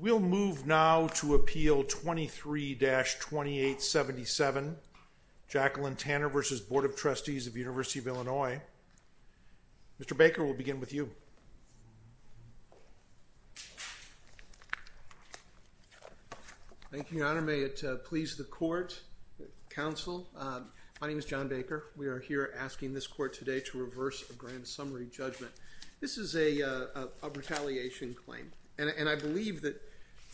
rsity of Illinois. Mr. Baker, we'll begin with you. Thank you, Your Honor. May it please the Court, Counsel, my name is John Baker. We are here asking this Court today to reverse a Grand Summary judgment. This is a retaliation claim, and I believe that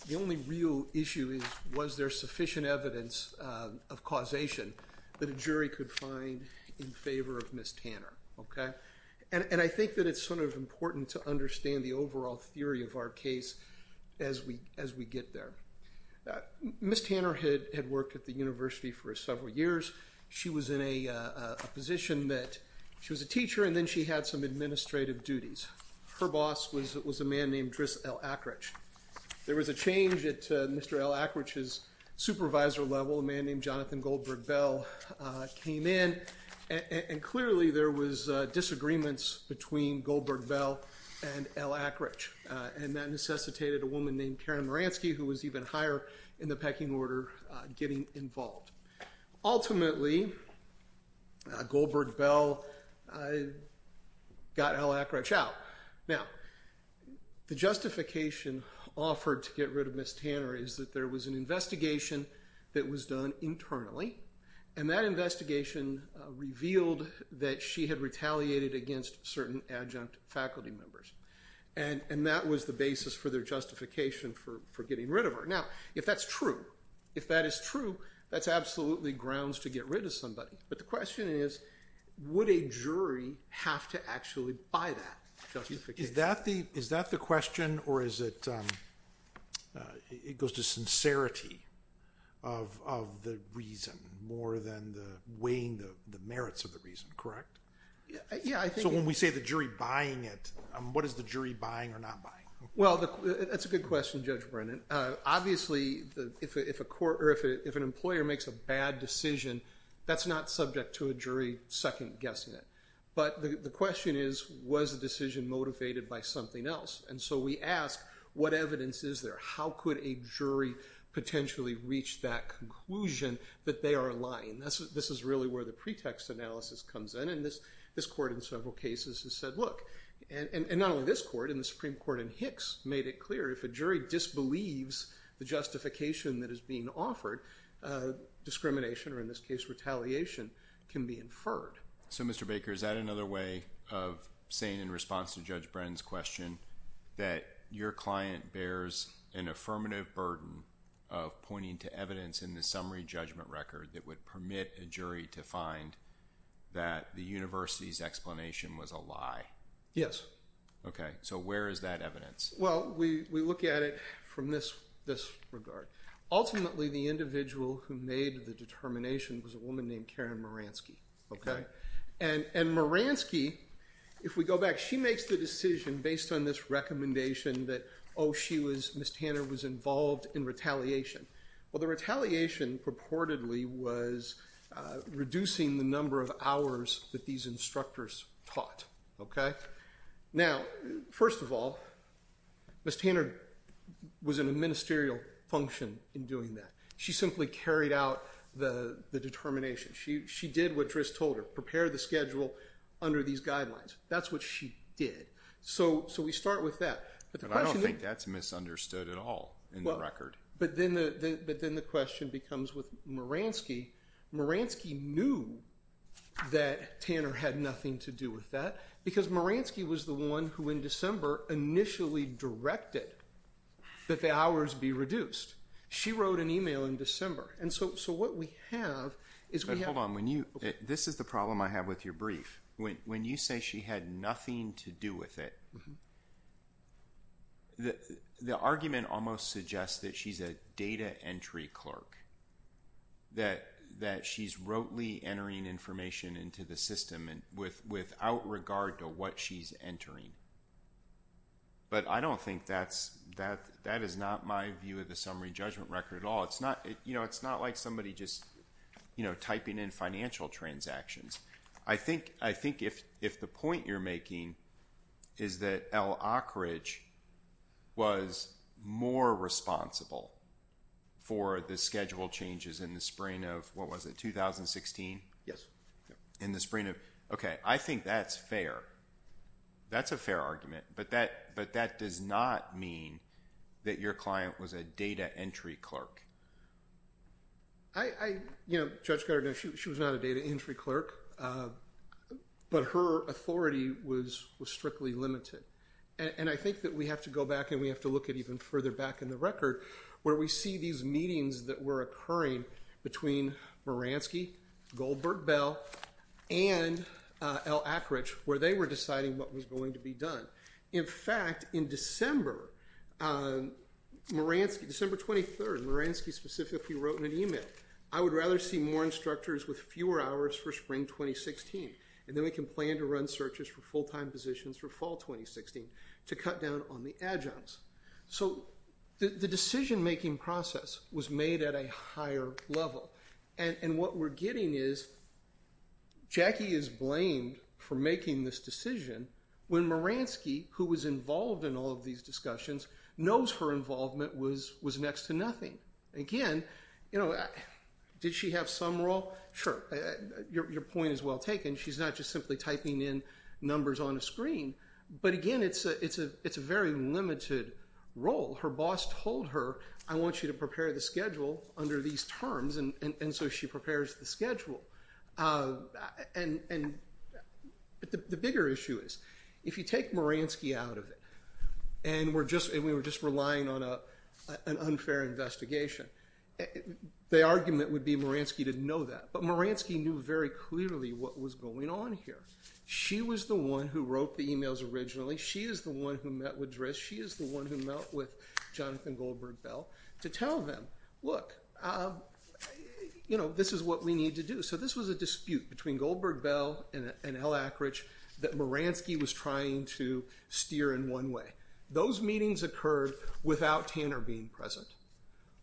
the only real issue is was there sufficient evidence of causation that a jury could find in favor of Ms. Tanner, okay? And I think that it's sort of important to understand the overall theory of our case as we get there. Ms. Tanner had worked at the University for several years. She was in a position that she was a teacher, and then she had some administrative duties. Her boss was a man named Driss L. Ackrich. There was a change at Mr. L. Ackrich's supervisor level. A man named Jonathan Goldberg-Bell came in, and clearly there was disagreements between Goldberg-Bell and L. Ackrich, and that necessitated a woman named Karen Maransky, who was even higher in the pecking order, getting involved. Ultimately, Goldberg-Bell got L. Ackrich out. Now, the justification offered to get rid of Ms. Tanner is that there was an investigation that was done internally, and that investigation revealed that she had retaliated against certain adjunct faculty members, and that was the basis for their justification for getting rid of her. Now, if that's true, if that is true, that's absolutely grounds to get rid of somebody, but the question is, would a jury have to actually buy that justification? Is that the question, or is it, it goes to sincerity of the reason more than the weighing the merits of the reason, correct? Yeah, I think it's... So when we say the jury buying it, what is the jury buying or not buying? Well, that's a good question, Judge Brennan. Obviously, if an employer makes a bad decision, that's not subject to a jury second-guessing it, but the question is, was the decision motivated by something else? And so we ask, what evidence is there? How could a jury potentially reach that conclusion that they are lying? This is really where the pretext analysis comes in, and this court in several cases has said, look, and not only this court, in the Supreme Court in Hicks made it clear, if a jury disbelieves the justification that is being offered, discrimination, or in this case, retaliation, can be inferred. So Mr. Baker, is that another way of saying, in response to Judge Brennan's question, that your client bears an affirmative burden of pointing to evidence in the summary judgment record that would permit a jury to find that the university's explanation was a lie? Yes. Okay. So where is that evidence? Well, we look at it from this regard. Ultimately, the individual who made the determination was a woman named Karen Moransky. And Moransky, if we go back, she makes the decision based on this recommendation that, oh, she was, Ms. Tanner was involved in retaliation. Well, the retaliation purportedly was reducing the number of hours that these instructors taught. Okay? Now, first of all, Ms. Tanner was in a ministerial function in doing that. She simply carried out the determination. She did what Driss told her, prepare the schedule under these guidelines. That's what she did. So we start with that. But I don't think that's misunderstood at all in the record. But then the question becomes with Moransky. Moransky knew that Tanner had nothing to do with that because Moransky was the one who in December initially directed that the hours be reduced. She wrote an email in December. And so what we have is we have- But hold on. This is the problem I have with your brief. When you say she had nothing to do with it, the argument almost suggests that she's a data entry clerk, that she's rotely without regard to what she's entering. But I don't think that's, that is not my view of the summary judgment record at all. It's not like somebody just typing in financial transactions. I think if the point you're making is that Al Ockridge was more responsible for the schedule changes in the spring of, what was it, 2016? Yes. In the spring of, okay. I think that's fair. That's a fair argument. But that does not mean that your client was a data entry clerk. I, you know, Judge Carter, she was not a data entry clerk. But her authority was strictly limited. And I think that we have to go back and we have to look at even further back in the record where we see these meetings that were occurring between Moransky, Goldberg-Bell, and Al Ockridge where they were deciding what was going to be done. In fact, in December, Moransky, December 23rd, Moransky specifically wrote in an email, I would rather see more instructors with fewer hours for spring 2016. And then we can plan to run searches for full-time positions for fall 2016 to cut down on the adjuncts. So the decision-making process was made at a higher level. And what we're getting is Jackie is blamed for making this decision when Moransky, who was involved in all of these discussions, knows her involvement was next to nothing. Again, you know, did she have some role? Sure. Your point is well taken. She's not just simply typing in numbers on a screen. But again, it's a very limited role. Her boss told her, I want you to prepare the schedule under these terms. And so she prepares the schedule. The bigger issue is, if you take Moransky out of it, and we were just relying on an unfair investigation, the argument would be Moransky didn't know that. But Moransky knew very clearly what was going on here. She was the one who wrote the emails originally. She is the one who met with Driss. She is the one who met with Jonathan Goldberg-Bell to tell them, look, you know, this is what we need to do. So this was a dispute between Goldberg-Bell and L. Akerich that Moransky was trying to steer in one way. Those meetings occurred without Tanner being present.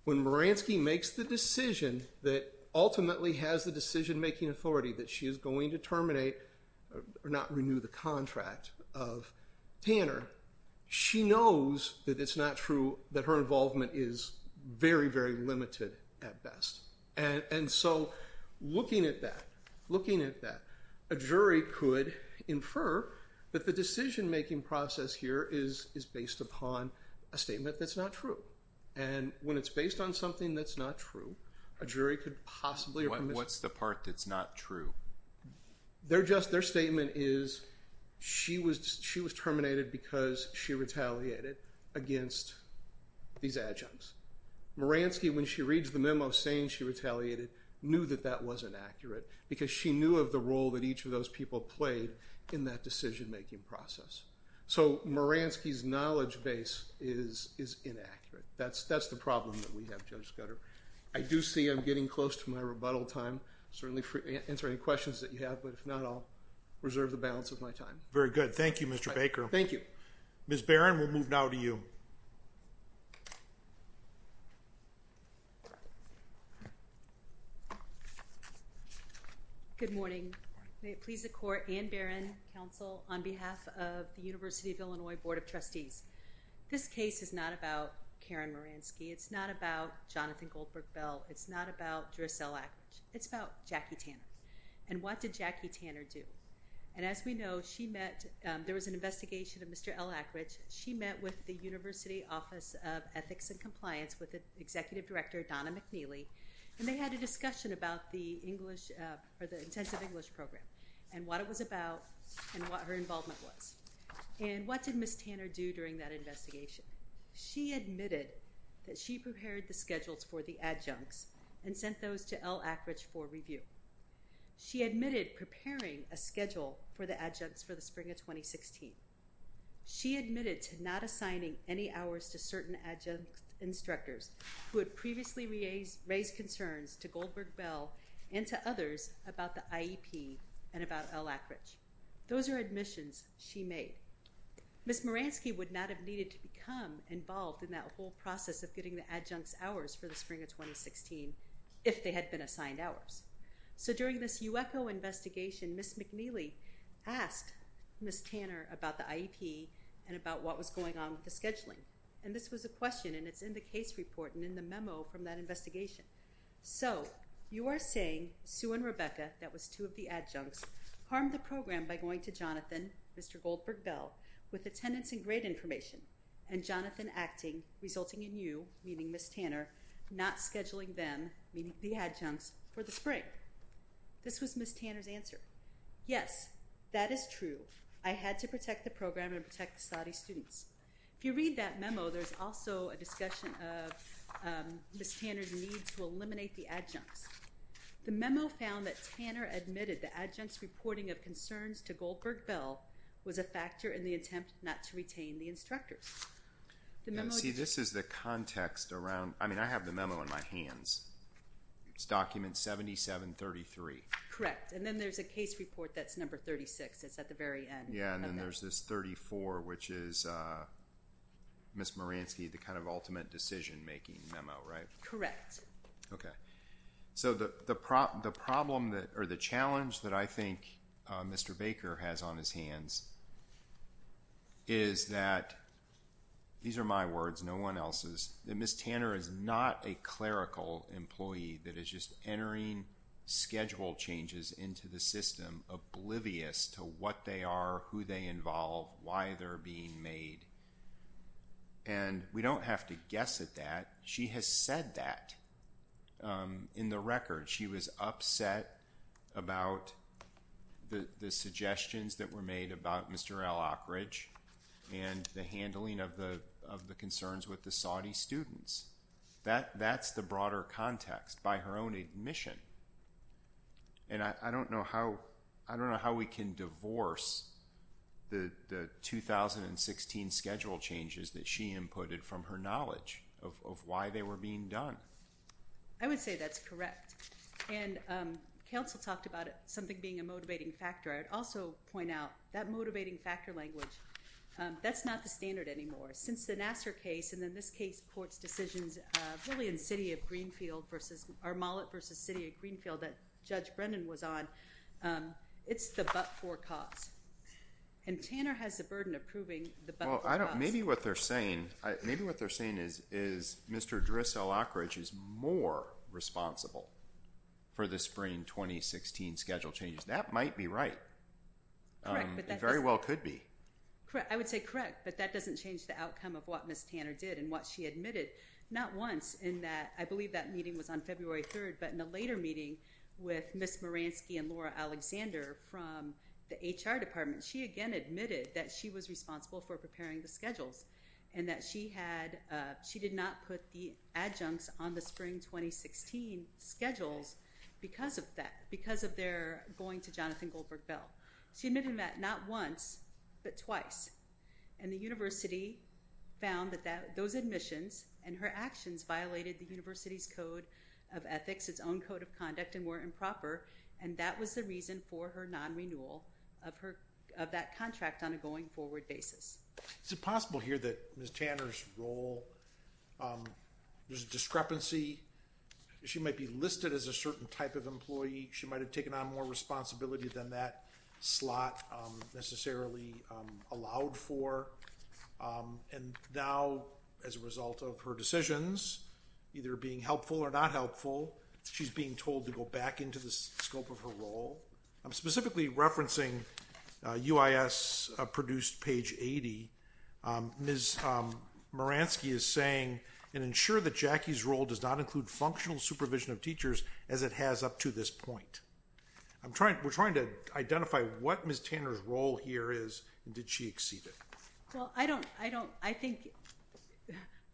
When Moransky makes the decision that ultimately has the decision-making authority that she is going to terminate or not renew the contract of Tanner, she knows that it's not true, that her involvement is very, very limited at best. And so looking at that, looking at that, a jury could infer that the decision-making process here is based upon a statement that's not true. And when it's based on something that's not true, a jury could possibly... What's the part that's not true? Their statement is she was terminated because she retaliated against these adjuncts. Moransky, when she reads the memo saying she retaliated, knew that that wasn't accurate because she knew of the role that each of those people played in that decision-making process. So Moransky's knowledge base is inaccurate. That's the problem that we have, Judge Scudder. I do see I'm getting close to my rebuttal time, certainly for answering questions that you have, but if not, I'll reserve the balance of my time. Very good. Thank you, Mr. Baker. Thank you. Ms. Barron, we'll move now to you. Good morning. May it please the Court and Barron, counsel, on behalf of the University of Illinois Board of Trustees. This case is not about Karen Moransky. It's not about Jonathan Goldberg-Bell. It's not about Drissell Ackridge. It's about Jackie Tanner. And what did Jackie Tanner do? And as we know, she met... There was an investigation of Mr. L. Ackridge. She met with the University Office of Ethics and Compliance with Executive Director Donna McNeely, and they had a discussion about the intensive English program and what it was about and what her involvement was. And what did Ms. Tanner do during that investigation? She admitted that she prepared the schedules for the adjuncts and sent those to L. Ackridge for review. She admitted preparing a schedule for the adjuncts for the spring of 2016. She admitted to not assigning any hours to certain adjunct instructors who had previously raised concerns to Goldberg-Bell and to others about the IEP and about L. Ackridge. Those are admissions she made. Ms. Moransky would not have needed to become involved in that whole process of getting the adjuncts hours for the spring of 2016 if they had been assigned hours. So there was a discussion about what was going on with the scheduling. And this was a question, and it's in the case report and in the memo from that investigation. So you are saying Sue and Rebecca, that was two of the adjuncts, harmed the program by going to Jonathan, Mr. Goldberg-Bell, with attendance and grade information, and Jonathan acting, resulting in you, meaning Ms. Tanner, not scheduling them, meaning the adjuncts, for the spring. This was Ms. Tanner's answer. Yes, that is true. I had to protect the program and protect the Saudi students. If you read that memo, there's also a discussion of Ms. Tanner's need to eliminate the adjuncts. The memo found that Tanner admitted the adjuncts reporting of concerns to Goldberg-Bell was a factor in the attempt not to retain the instructors. See, this is the context around, I mean, I have the memo in my hands. It's document 7733. Correct. And then there's a case report that's number 36. It's at the very end. Yeah, and then there's this 34, which is Ms. Moransky, the kind of ultimate decision-making memo, right? Correct. So the problem or the challenge that I think Mr. Baker has on his hands is that, these schedule changes into the system, oblivious to what they are, who they involve, why they're being made. And we don't have to guess at that. She has said that in the record. She was upset about the suggestions that were made about Mr. Al Ockridge and the handling of the concerns with the Saudi students. That's the broader context by her own admission. And I don't know how we can divorce the 2016 schedule changes that she inputted from her knowledge of why they were being done. I would say that's correct. And counsel talked about it, something being a motivating factor. I would also point out that motivating factor language, that's not the standard anymore. Since the Nassar case and then this case court's decisions, really in City of Greenfield versus, or Mollet versus City of Greenfield that Judge Brennan was on, it's the but-for cause. And Tanner has the burden of proving the but-for cause. Maybe what they're saying is Mr. Driss Al Ockridge is more responsible for the spring 2016 schedule changes. That might be right. It very well could be. I would say correct, but that doesn't change the outcome of what Ms. Tanner did and what she admitted. Not once in that, I believe that meeting was on February 3rd, but in a later meeting with Ms. Moransky and Laura Alexander from the HR department, she again admitted that she was responsible for preparing the schedules and that she had, she did not put the adjuncts on the spring 2016 schedules because of that, because of their going to Jonathan Goldberg Bell. She admitted that not once, but twice. And the university found that those admissions and her actions violated the university's code of ethics, its own code of conduct and were improper. And that was the reason for her non-renewal of her, of that contract on a going forward basis. Is it possible here that Ms. Tanner's role, there's a discrepancy. She might be listed as a certain type of employee. She might've taken on more responsibility than that slot necessarily allowed for. And now as a result of her decisions, either being helpful or not helpful, she's being told to go back into the scope of her role. I'm specifically referencing UIS produced page 80. Ms. Moransky is saying, and ensure that Jackie's role does not include functional supervision of teachers as it has up to this point. I'm trying, we're trying to identify what Ms. Tanner's role here is and did she exceed it? Well, I don't, I don't, I think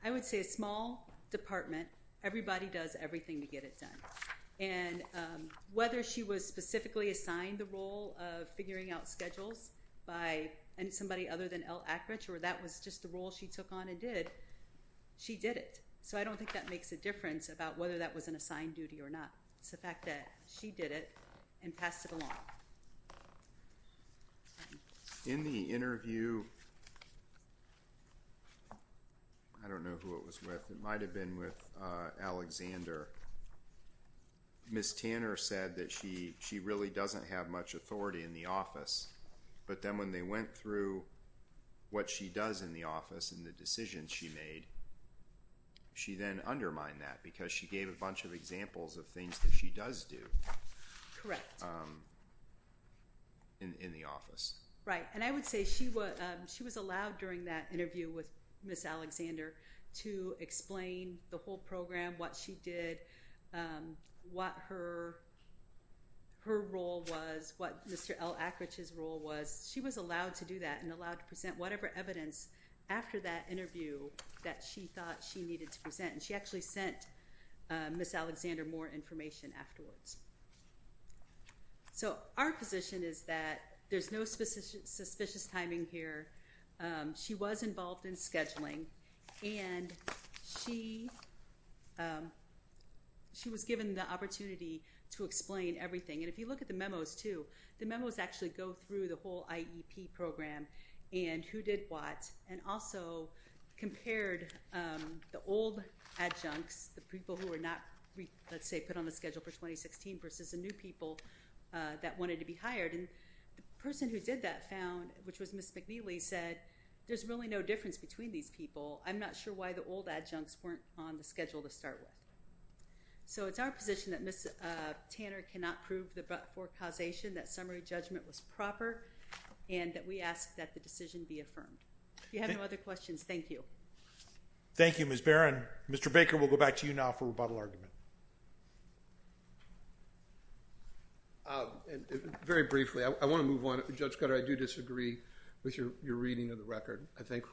I would say a small department, everybody does everything to get it done. And whether she was specifically assigned the role of figuring out schedules by somebody other than Elle Ackrich, or that was just the role she took on and did, she did it. So I don't think that makes a difference about whether that was an assigned duty or not. It's the fact that she did it and passed it along. In the interview, I don't know who it was with. It might've been with Alexander. Ms. Tanner said that she, she really doesn't have much authority in the office, but then when they went through what she does in the office and the decisions she made, she then undermined that because she gave a bunch of examples of things that she does do in the office. Right. And I would say she was allowed during that interview with Ms. Alexander to explain the whole program, what she did, what her role was, what Mr. Elle Ackrich's role was. She was allowed to do that and allowed to present whatever evidence after that interview that she thought she needed to present. And she actually sent Ms. Alexander more information afterwards. So our position is that there's no suspicious timing here. She was involved in scheduling and she, she was given the opportunity to explain everything. And if you look at the memos too, the memos actually go through the whole IEP program and who did what, and also compared the old adjuncts, the people who were not, let's say, put on the schedule for 2016 versus the new people that wanted to be hired. And the person who did that found, which was Ms. McNeely, said, there's really no difference between these people. I'm not sure why the old adjuncts weren't on the schedule to start with. So it's our position that Ms. Tanner cannot prove the forecausation that summary judgment was proper and that we ask that the decision be affirmed. If you have no other questions, thank you. Thank you, Ms. Barron. Mr. Baker, we'll go back to you now for rebuttal argument. Very briefly, I want to move on. Judge Cutter, I do disagree with your reading of the record. I think,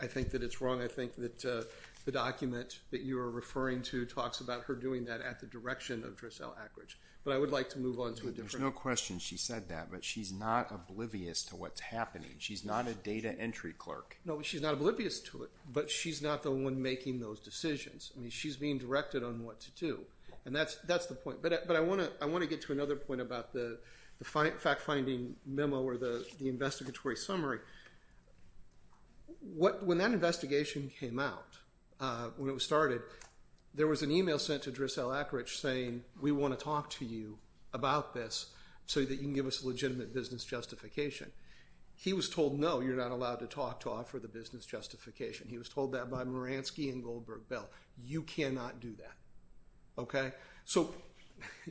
I think that it's wrong. I think that the document that you are referring to talks about her doing that at the direction of Drissel Ackridge. But I would like to move on to a different... There's no question she said that, but she's not oblivious to what's happening. She's not a data entry clerk. No, but she's not oblivious to it. But she's not the one making those decisions. I mean, she's being directed on what to do. And that's the point. But I want to get to another point about the fact-finding memo or the investigatory summary. When that investigation came out, when it was started, there was an email sent to Drissel Ackridge saying, we want to talk to you about this so that you can give us a legitimate business justification. He was told, no, you're not allowed to talk to offer the business justification. He was told that by Moransky and Goldberg-Bell. You cannot do that. Okay? So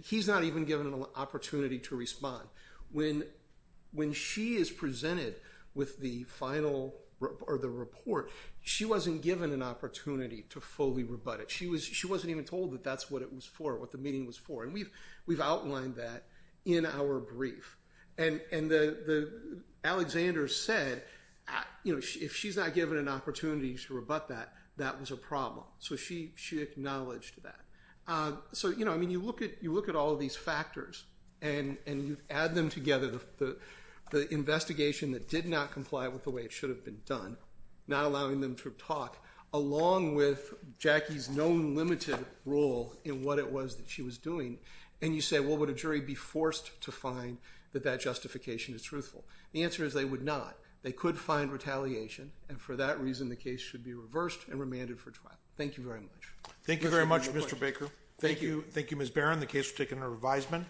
he's not even given an opportunity to respond. When she is presented with the final report, she wasn't given an opportunity to fully rebut it. She wasn't even told that that's what it was for, what the meeting was for. And we've outlined that in our brief. And Alexander said, if she's not given an opportunity to rebut that, that was a problem. So she acknowledged that. So, you know, I mean, you look at all of these factors and you add them together, the investigation that did not comply with the way it should have been done, not allowing them to talk, along with Jackie's known limited role in what it was that she was doing. And you say, well, would a jury be forced to find that that justification is truthful? The answer is they would not. They could find retaliation. And for that reason, the case should be reversed and remanded for trial. Thank you very much. Thank you very much, Mr. Baker. Thank you. Thank you, Ms. Barron. The case was taken under revisement.